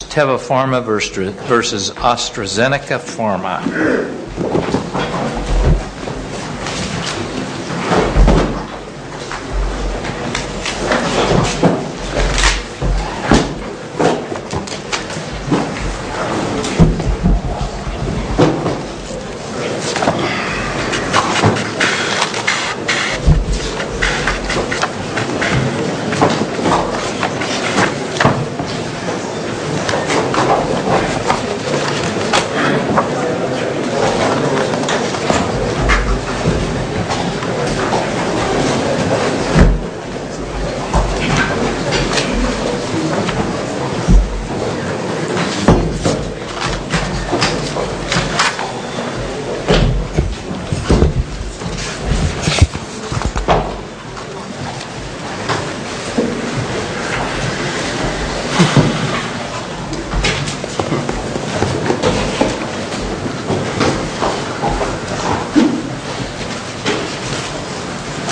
TEVA PHARMA v. ASTRAZENECA PHARMA TEVA PHARMA v. ASTRAZENECA PHARMA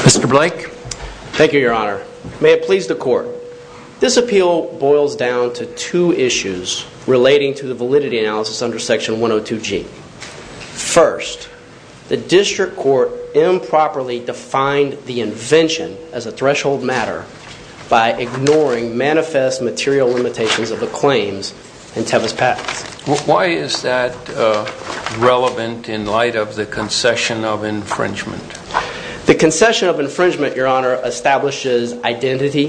Mr. Blake. Thank you, your honor. May it please the court. This appeal boils down to two issues relating to the validity analysis under section 102G. First, the district court improperly defined the invention as a threshold matter by ignoring manifest material limitations of the claims in section 102G. Why is that relevant in light of the concession of infringement? The concession of infringement, your honor, establishes identity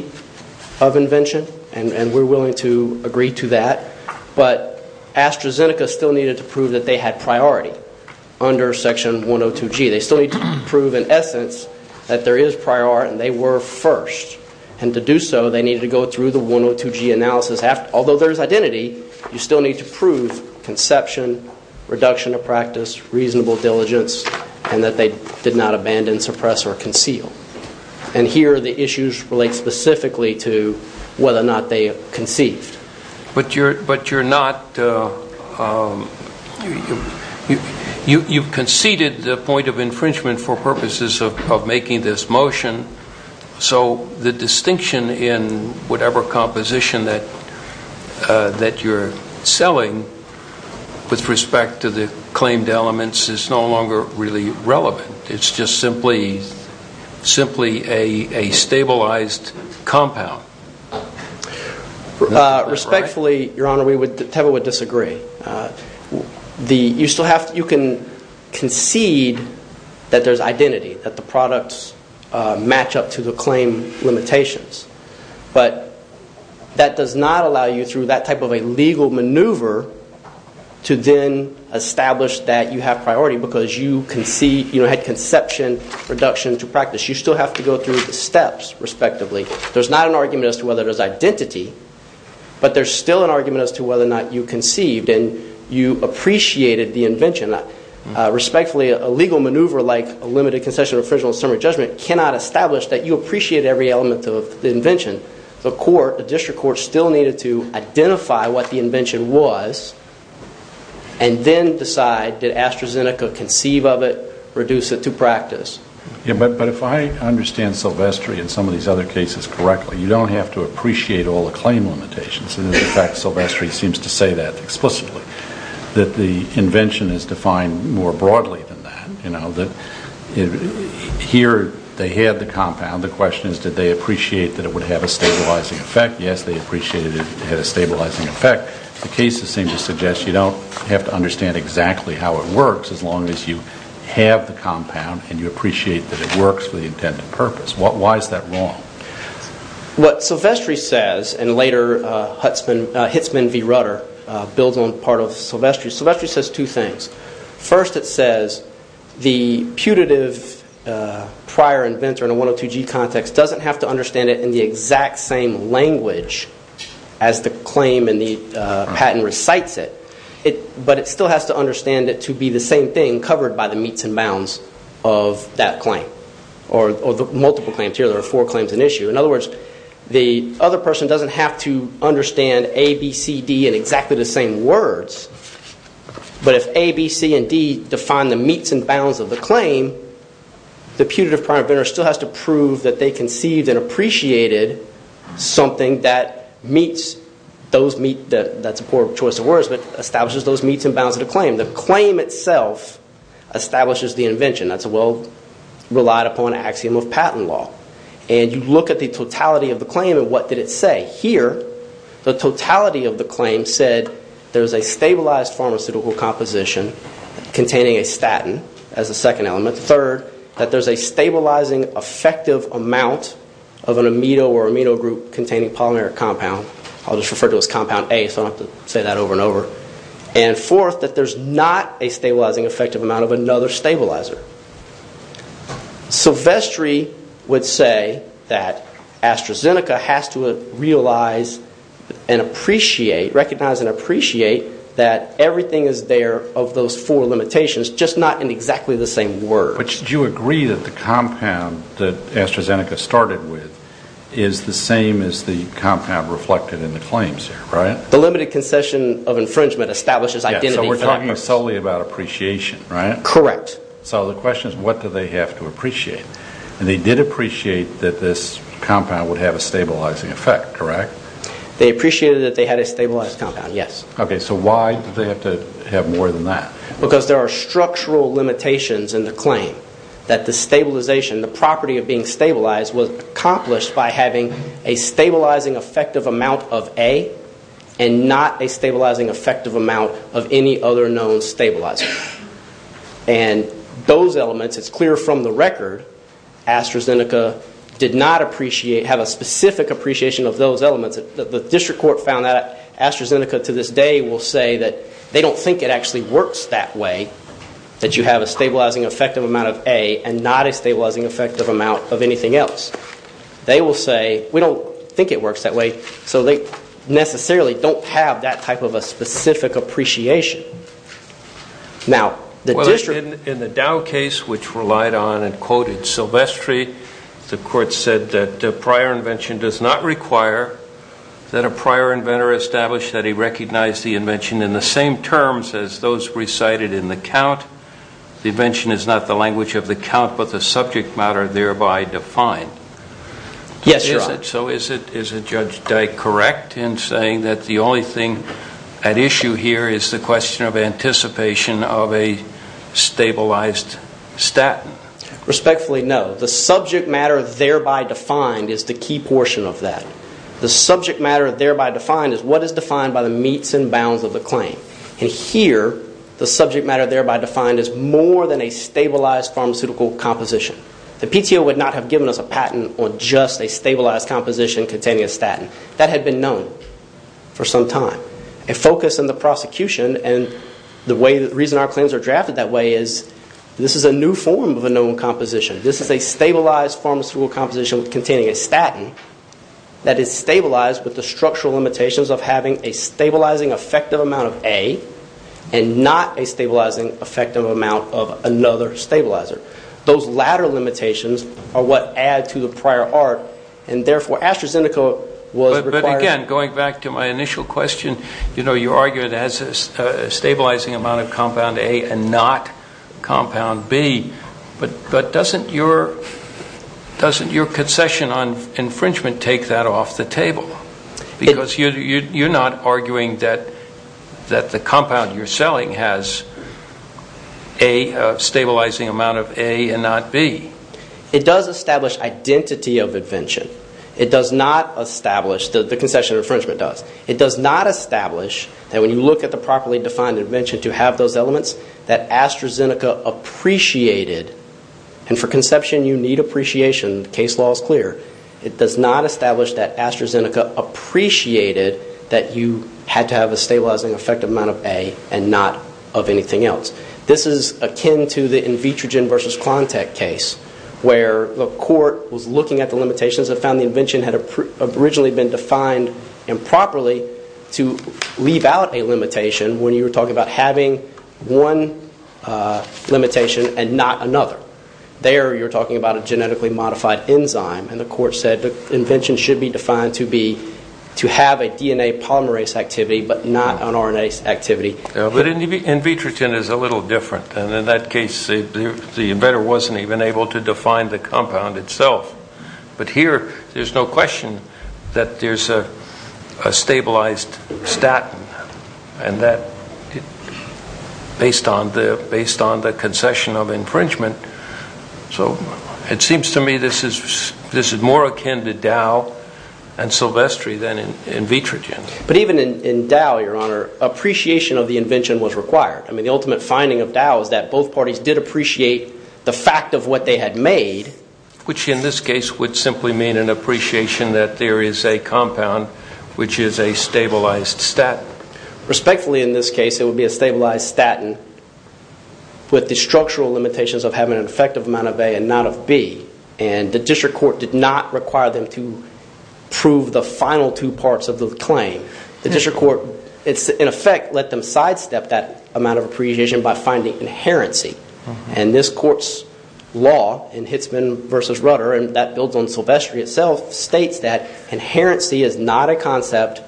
of invention, and we're willing to agree to that, but AstraZeneca still needed to prove that they had priority under section 102G. They still need to prove, in essence, that there is priority and they were first, and to do so, they need to go through the 102G analysis. Although there's identity, you still need to prove conception, reduction of practice, reasonable diligence, and that they did not abandon, suppress, or conceal. And here, the issues relate specifically to whether or not they conceived. But you're not, you conceded the point of infringement for purposes of making this motion, so the distinction in whatever composition that you're selling with respect to the claimed elements is no longer really relevant. It's just simply a stabilized compound. Respectfully, your honor, Teva would disagree. You can concede that there's identity, that the products match up to the claim limitations, but that does not allow you through that type of a legal maneuver to then establish that you have priority because you had conception, reduction to practice. You still have to go through the steps, respectively. There's not an argument as to whether there's identity, but there's still an argument as to whether or not you conceived and you appreciated the invention. Respectfully, a legal maneuver like a limited concession or infringement on summary judgment cannot establish that you appreciate every element of the invention. The court, the district court, still needed to identify what the invention was and then decide, did AstraZeneca conceive of it, reduce it to practice? But if I understand Silvestri and some of these other cases correctly, you don't have to appreciate all the claim limitations. In fact, Silvestri seems to say that explicitly, that the invention is defined more broadly than that. Here, they had the compound. The question is, did they appreciate that it would have a stabilizing effect? Yes, they appreciated it had a stabilizing effect. The cases seem to suggest you don't have to understand exactly how it works as long as you have the compound and you appreciate that it works for the intended purpose. Why is that wrong? What Silvestri says, and later Hitzman v. Rutter builds on part of Silvestri, Silvestri says two things. First, it says the putative prior inventor in a 102G context doesn't have to understand it in the exact same language as the claim and the patent recites it, but it still has to understand it to be the same thing covered by the meets and bounds of that claim or the multiple claims. Here, there are four claims in issue. In other words, the other person doesn't have to understand A, B, C, D in exactly the same words, but if A, B, C, and D define the meets and bounds of the claim, the putative prior inventor still has to prove that they conceived and appreciated something that meets, that's a poor choice of words, but establishes those meets and bounds of the claim. The claim itself establishes the invention. That's a well relied upon axiom of patent law. And you look at the totality of the claim and what did it say? Here, the totality of the claim said there's a stabilized pharmaceutical composition containing a statin as a second element. Third, that there's a stabilizing effective amount of an amino or amino group containing polymeric compound. I'll just refer to it as compound A so I don't have to say that over and over. And fourth, that there's not a stabilizing effective amount of another stabilizer. So Vestry would say that AstraZeneca has to realize and appreciate, recognize and appreciate, that everything is there of those four limitations, just not in exactly the same words. But you agree that the compound that AstraZeneca started with is the same as the compound reflected in the claims here, right? The limited concession of infringement establishes identity factors. So we're talking solely about appreciation, right? Correct. So the question is what do they have to appreciate? And they did appreciate that this compound would have a stabilizing effect, correct? They appreciated that they had a stabilized compound, yes. Okay, so why did they have to have more than that? Because there are structural limitations in the claim that the stabilization, the property of being stabilized was accomplished by having a stabilizing effective amount of A and not a stabilizing effective amount of any other known stabilizer. And those elements, it's clear from the record, AstraZeneca did not appreciate, have a specific appreciation of those elements. The district court found that AstraZeneca to this day will say that they don't think it actually works that way, that you have a stabilizing effective amount of A and not a stabilizing effective amount of anything else. They will say, we don't think it works that way. So they necessarily don't have that type of a specific appreciation. In the Dow case, which relied on and quoted Silvestri, the court said that prior invention does not require that a prior inventor establish that he recognized the invention in the same terms as those recited in the count. The invention is not the language of the count, but the subject matter thereby defined. Yes, Your Honor. So is it Judge Dyke correct in saying that the only thing at issue here is the question of anticipation of a stabilized statin? Respectfully, no. The subject matter thereby defined is the key portion of that. The subject matter thereby defined is what is defined by the meets and bounds of the claim. And here, the subject matter thereby defined is more than a stabilized pharmaceutical composition. The PTO would not have given us a patent on just a stabilized composition containing a statin. That had been known for some time. A focus in the prosecution and the reason our claims are drafted that way is this is a new form of a known composition. This is a stabilized pharmaceutical composition containing a statin that is stabilized with the structural limitations of having a stabilizing effective amount of A and not a stabilizing effective amount of another stabilizer. Those latter limitations are what add to the prior art and therefore AstraZeneca was required. Again, going back to my initial question, you know, you argue it has a stabilizing amount of compound A and not compound B. But doesn't your concession on infringement take that off the table? Because you're not arguing that the compound you're selling has a stabilizing amount of A and not B. It does establish identity of invention. It does not establish, the concession of infringement does. It does not establish that when you look at the properly defined invention to have those elements that AstraZeneca appreciated, and for conception you need appreciation, the case law is clear, it does not establish that AstraZeneca appreciated that you had to have a stabilizing effective amount of A and not of anything else. This is akin to the Invitrogen versus Klontek case where the court was looking at the limitations and found the invention had originally been defined improperly to leave out a limitation when you were talking about having one limitation and not another. There you're talking about a genetically modified enzyme and the court said the invention should be defined to have a DNA polymerase activity but not an RNA activity. But Invitrogen is a little different and in that case the inventor wasn't even able to define the compound itself. But here there's no question that there's a stabilized statin based on the concession of infringement. So it seems to me this is more akin to Dow and Silvestri than Invitrogen. But even in Dow, your honor, appreciation of the invention was required. I mean the ultimate finding of Dow is that both parties did appreciate the fact of what they had made. Which in this case would simply mean an appreciation that there is a compound which is a stabilized statin. Respectfully in this case it would be a stabilized statin with the structural limitations of having an effective amount of A and not of B. And the district court did not require them to prove the final two parts of the claim. The district court in effect let them sidestep that amount of appreciation by finding inherency. And this court's law in Hitzman v. Rudder and that builds on Silvestri itself states that inherency is not a concept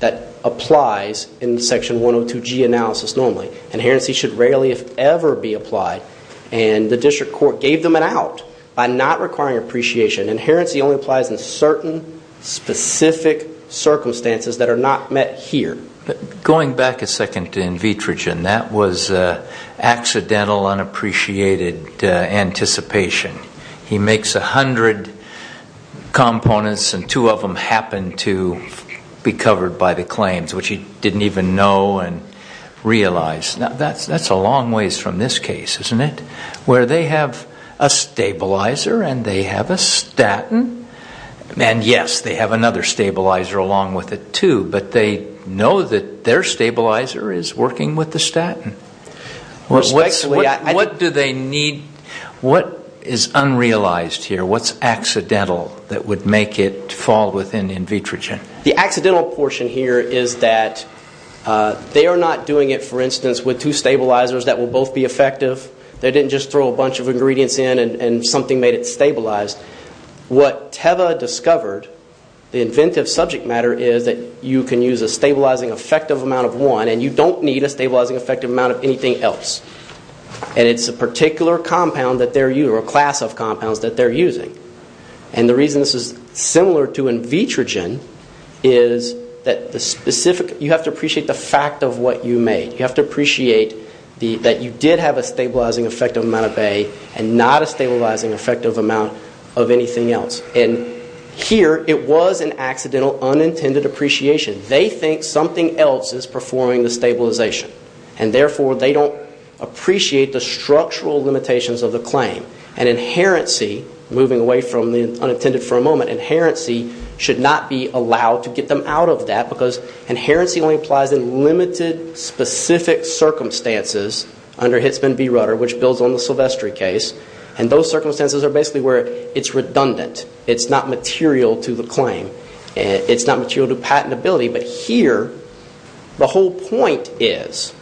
that applies in Section 102G analysis normally. Inherency should rarely if ever be applied. And the district court gave them an out by not requiring appreciation. Inherency only applies in certain specific circumstances that are not met here. Going back a second to Invitrogen, that was accidental unappreciated anticipation. He makes a hundred components and two of them happen to be covered by the claims which he didn't even know and realize. Now that's a long ways from this case, isn't it? Where they have a stabilizer and they have a statin. And yes, they have another stabilizer along with it too. But they know that their stabilizer is working with the statin. What do they need? What is unrealized here? What's accidental that would make it fall within Invitrogen? The accidental portion here is that they are not doing it, for instance, with two stabilizers that will both be effective. They didn't just throw a bunch of ingredients in and something made it stabilized. What Teva discovered, the inventive subject matter, is that you can use a stabilizing effective amount of one and you don't need a stabilizing effective amount of anything else. And it's a particular compound that they're using or a class of compounds that they're using. And the reason this is similar to Invitrogen is that you have to appreciate the fact of what you made. You have to appreciate that you did have a stabilizing effective amount of A and not a stabilizing effective amount of anything else. And here it was an accidental, unintended appreciation. They think something else is performing the stabilization. And therefore, they don't appreciate the structural limitations of the claim. And inherency, moving away from the unintended for a moment, inherency should not be allowed to get them out of that because inherency only applies in limited, specific circumstances under Hitzman v. Rutter, which builds on the Silvestri case. And those circumstances are basically where it's redundant. It's not material to the claim. It's not material to patentability. But here, the whole point is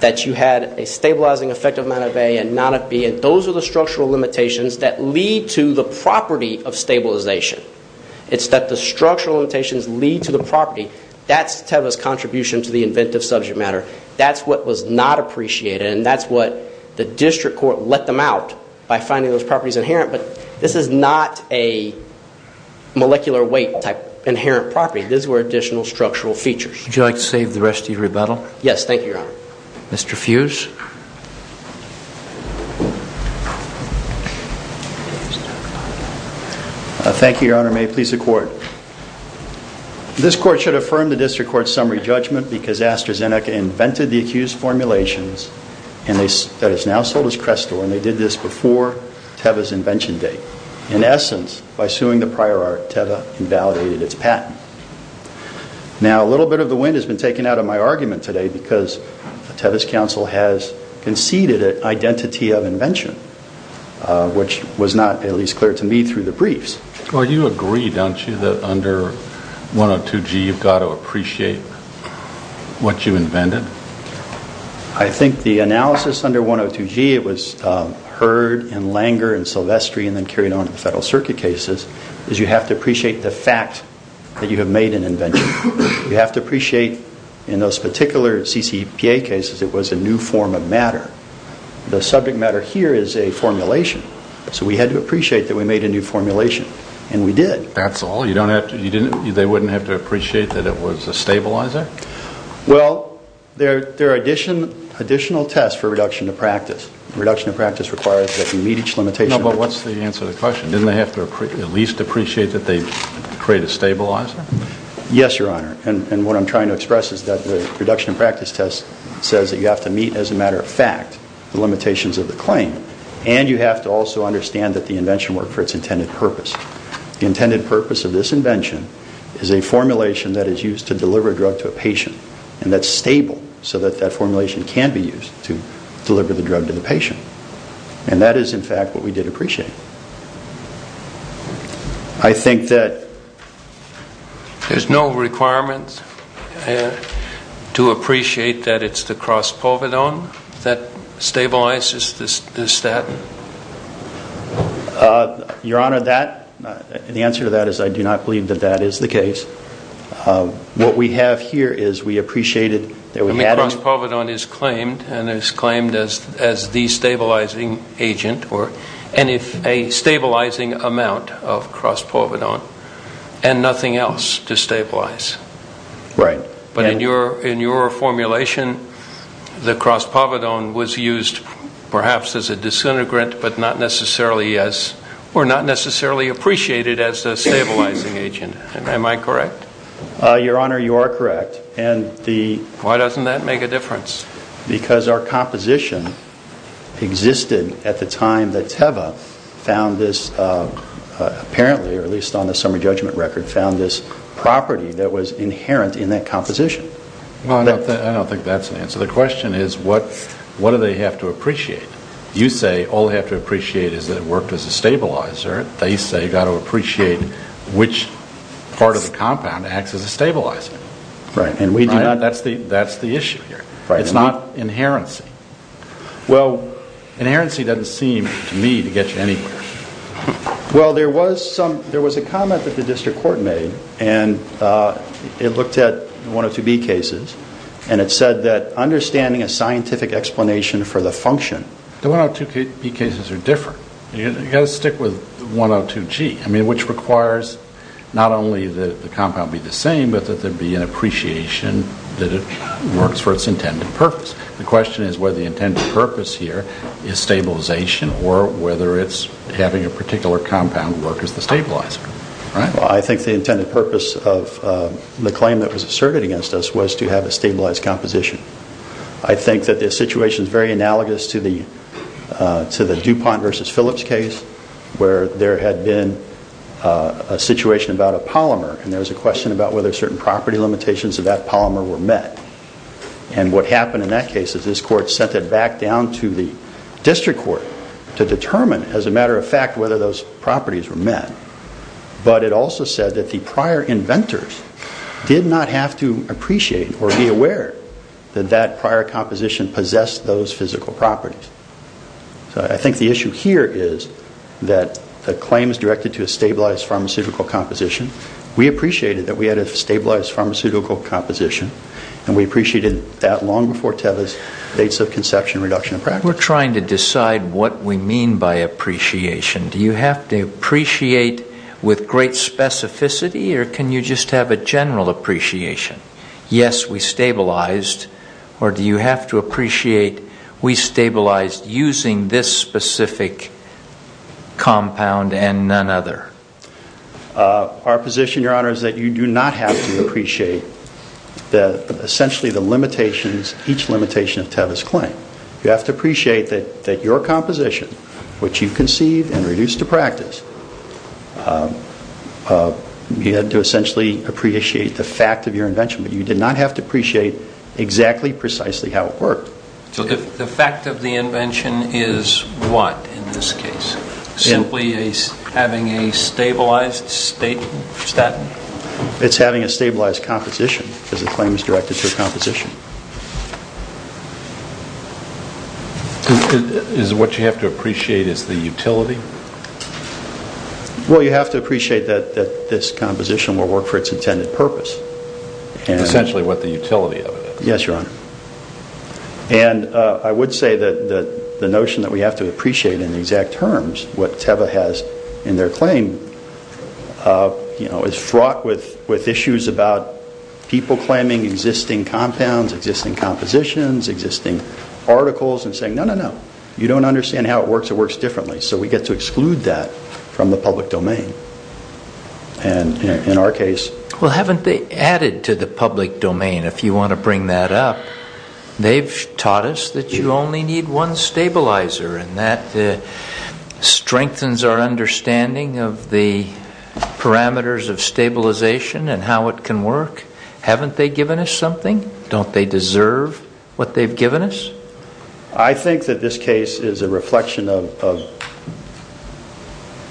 that you had a stabilizing effective amount of A and not of B. And those are the structural limitations that lead to the property of stabilization. It's that the structural limitations lead to the property. That's Teva's contribution to the inventive subject matter. That's what was not appreciated. And that's what the district court let them out by finding those properties inherent. But this is not a molecular weight type inherent property. These were additional structural features. Would you like to save the rest of your rebuttal? Yes, thank you, Your Honor. Mr. Fuse. Thank you, Your Honor. May it please the Court. This Court should affirm the district court's summary judgment because AstraZeneca invented the accused formulations that is now sold as Crestor, and they did this before Teva's invention date. In essence, by suing the prior art, Teva invalidated its patent. Now, a little bit of the wind has been taken out of my argument today because Teva's counsel has conceded an identity of invention, which was not at least clear to me through the briefs. Well, you agree, don't you, that under 102G you've got to appreciate what you invented? I think the analysis under 102G, it was Heard and Langer and Silvestri and then carried on to the Federal Circuit cases, is you have to appreciate the fact that you have made an invention. You have to appreciate in those particular CCPA cases it was a new form of matter. The subject matter here is a formulation. So we had to appreciate that we made a new formulation, and we did. That's all? They wouldn't have to appreciate that it was a stabilizer? Well, there are additional tests for reduction of practice. Reduction of practice requires that you meet each limitation. No, but what's the answer to the question? Didn't they have to at least appreciate that they create a stabilizer? Yes, Your Honor, and what I'm trying to express is that the reduction of practice test says that you have to meet, as a matter of fact, the limitations of the claim, and you have to also understand that the invention worked for its intended purpose. The intended purpose of this invention is a formulation that is used to deliver a drug to a patient, and that's stable so that that formulation can be used to deliver the drug to the patient. And that is, in fact, what we did appreciate. I think that there's no requirement to appreciate that it's the cross-pulvidone that stabilizes the statin? Your Honor, the answer to that is I do not believe that that is the case. What we have here is we appreciated that we had it. The cross-pulvidone is claimed and is claimed as the stabilizing agent and a stabilizing amount of cross-pulvidone and nothing else to stabilize. Right. But in your formulation, the cross-pulvidone was used perhaps as a disintegrant but not necessarily as or not necessarily appreciated as a stabilizing agent. Am I correct? Your Honor, you are correct. Why doesn't that make a difference? Because our composition existed at the time that Teva found this, apparently, or at least on the summary judgment record, found this property that was inherent in that composition. I don't think that's an answer. The question is what do they have to appreciate? You say all they have to appreciate is that it worked as a stabilizer. They say you've got to appreciate which part of the compound acts as a stabilizer. Right. That's the issue here. It's not inherency. Well, inherency doesn't seem to me to get you anywhere. Well, there was a comment that the district court made and it looked at the 102B cases and it said that understanding a scientific explanation for the function. The 102B cases are different. You've got to stick with 102G, which requires not only that the compound be the same but that there be an appreciation that it works for its intended purpose. The question is whether the intended purpose here is stabilization or whether it's having a particular compound work as the stabilizer. I think the intended purpose of the claim that was asserted against us was to have a stabilized composition. I think that this situation is very analogous to the DuPont v. Phillips case where there had been a situation about a polymer and there was a question about whether certain property limitations of that polymer were met. And what happened in that case is this court sent it back down to the district court to determine, as a matter of fact, whether those properties were met. But it also said that the prior inventors did not have to appreciate or be aware that that prior composition possessed those physical properties. So I think the issue here is that the claim is directed to a stabilized pharmaceutical composition. We appreciated that we had a stabilized pharmaceutical composition and we appreciated that long before Tevis, dates of conception, reduction of practice. We're trying to decide what we mean by appreciation. Do you have to appreciate with great specificity or can you just have a general appreciation? Yes, we stabilized. Or do you have to appreciate we stabilized using this specific compound and none other? Our position, Your Honor, is that you do not have to appreciate essentially each limitation of Tevis' claim. You have to appreciate that your composition, which you conceived and reduced to practice, you had to essentially appreciate the fact of your invention. But you did not have to appreciate exactly, precisely how it worked. So the fact of the invention is what in this case? Simply having a stabilized statin? It's having a stabilized composition because the claim is directed to a composition. What you have to appreciate is the utility? Well, you have to appreciate that this composition will work for its intended purpose. Essentially what the utility of it is. Yes, Your Honor. And I would say that the notion that we have to appreciate in exact terms what Tevis has in their claim is fraught with issues about people claiming existing compounds existing compositions, existing articles, and saying, no, no, no, you don't understand how it works. It works differently. So we get to exclude that from the public domain. And in our case? Well, haven't they added to the public domain, if you want to bring that up? They've taught us that you only need one stabilizer and that strengthens our understanding of the parameters of stabilization and how it can work. Haven't they given us something? Don't they deserve what they've given us? I think that this case is a reflection of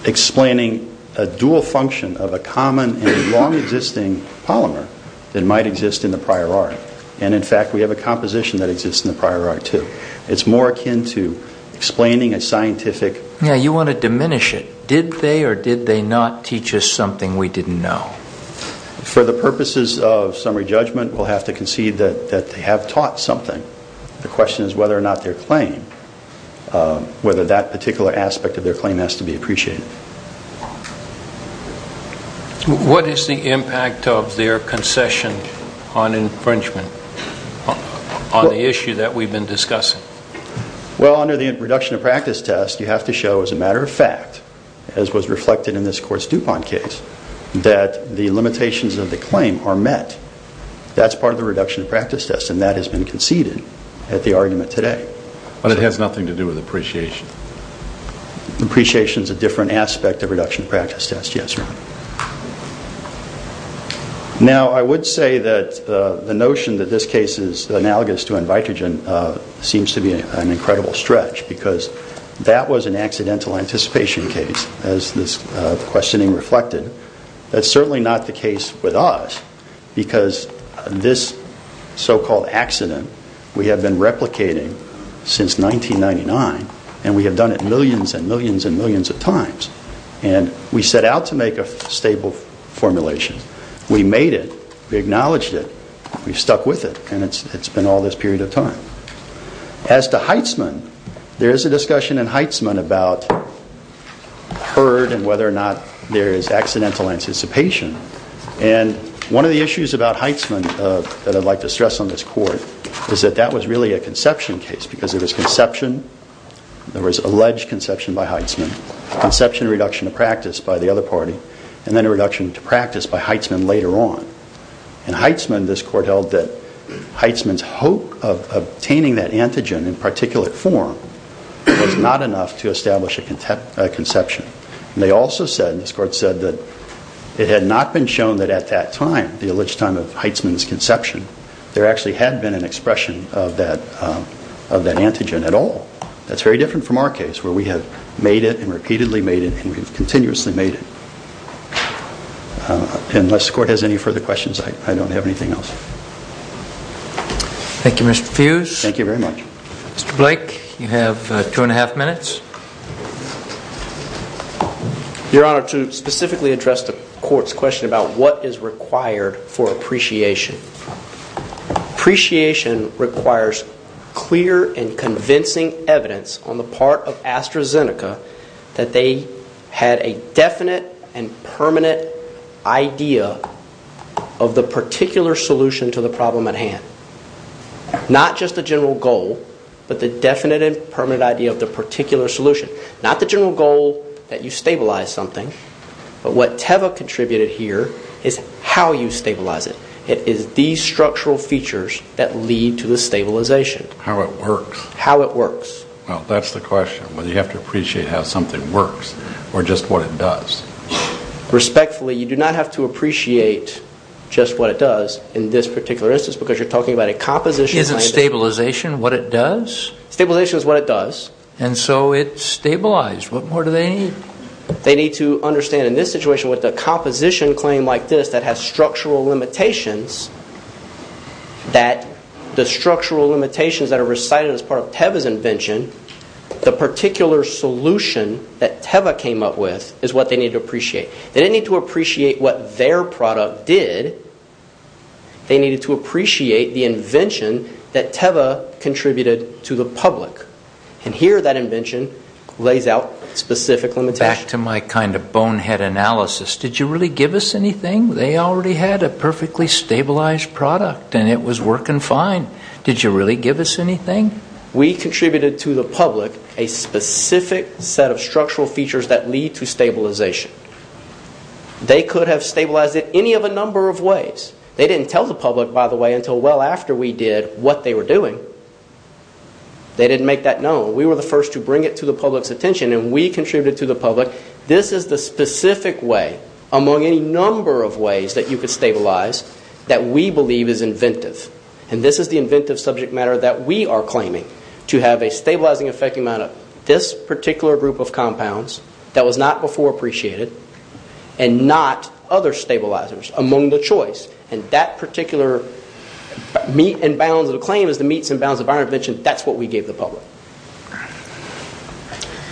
explaining a dual function of a common and long-existing polymer that might exist in the prior art. And, in fact, we have a composition that exists in the prior art, too. It's more akin to explaining a scientific You want to diminish it. Did they or did they not teach us something we didn't know? For the purposes of summary judgment, we'll have to concede that they have taught something. The question is whether or not their claim, whether that particular aspect of their claim has to be appreciated. What is the impact of their concession on infringement on the issue that we've been discussing? Well, under the reduction of practice test, you have to show, as a matter of fact, as was reflected in this Court's DuPont case, that the limitations of the claim are met. That's part of the reduction of practice test, and that has been conceded at the argument today. But it has nothing to do with appreciation. Appreciation is a different aspect of reduction of practice test, yes, Your Honor. Now, I would say that the notion that this case is analogous to in vitrogen seems to be an incredible stretch because that was an accidental anticipation case, as this questioning reflected. That's certainly not the case with us because this so-called accident we have been replicating since 1999, and we have done it millions and millions and millions of times. And we set out to make a stable formulation. We made it. We acknowledged it. We've stuck with it, and it's been all this period of time. As to Heitzman, there is a discussion in Heitzman about HERD and whether or not there is accidental anticipation. And one of the issues about Heitzman that I'd like to stress on this Court is that that was really a conception case because there was conception, there was alleged conception by Heitzman, conception reduction of practice by the other party, and then a reduction to practice by Heitzman later on. In Heitzman, this Court held that Heitzman's hope of obtaining that antigen in particulate form was not enough to establish a conception. And they also said, and this Court said, that it had not been shown that at that time, the alleged time of Heitzman's conception, there actually had been an expression of that antigen at all. That's very different from our case where we have made it and repeatedly made it, and we've continuously made it. Unless the Court has any further questions, I don't have anything else. Thank you, Mr. Fuse. Thank you very much. Mr. Blake, you have two and a half minutes. Your Honor, to specifically address the Court's question about what is required for appreciation. Appreciation requires clear and convincing evidence on the part of AstraZeneca that they had a definite and permanent idea of the particular solution to the problem at hand. Not just the general goal, but the definite and permanent idea of the particular solution. Not the general goal that you stabilize something, but what Teva contributed here is how you stabilize it. It is these structural features that lead to the stabilization. How it works. How it works. Well, that's the question, whether you have to appreciate how something works or just what it does. Respectfully, you do not have to appreciate just what it does in this particular instance because you're talking about a composition... Is it stabilization, what it does? Stabilization is what it does. And so it's stabilized. What more do they need? They need to understand in this situation with a composition claim like this that has structural limitations, that the structural limitations that are recited as part of Teva's invention, the particular solution that Teva came up with is what they need to appreciate. They didn't need to appreciate what their product did. They needed to appreciate the invention that Teva contributed to the public. And here that invention lays out specific limitations. Back to my kind of bonehead analysis. Did you really give us anything? They already had a perfectly stabilized product and it was working fine. Did you really give us anything? We contributed to the public a specific set of structural features that lead to stabilization. They could have stabilized it any of a number of ways. They didn't tell the public, by the way, until well after we did what they were doing. They didn't make that known. We were the first to bring it to the public's attention and we contributed to the public. This is the specific way among any number of ways that you could stabilize that we believe is inventive. And this is the inventive subject matter that we are claiming to have a stabilizing effect on this particular group of compounds that was not before appreciated and not other stabilizers among the choice. And that particular meat and bounds of the claim is the meats and bounds of our invention. That's what we gave the public.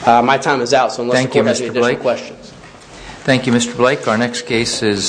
My time is out, so unless you have any additional questions. Thank you, Mr. Blake. Our next case is...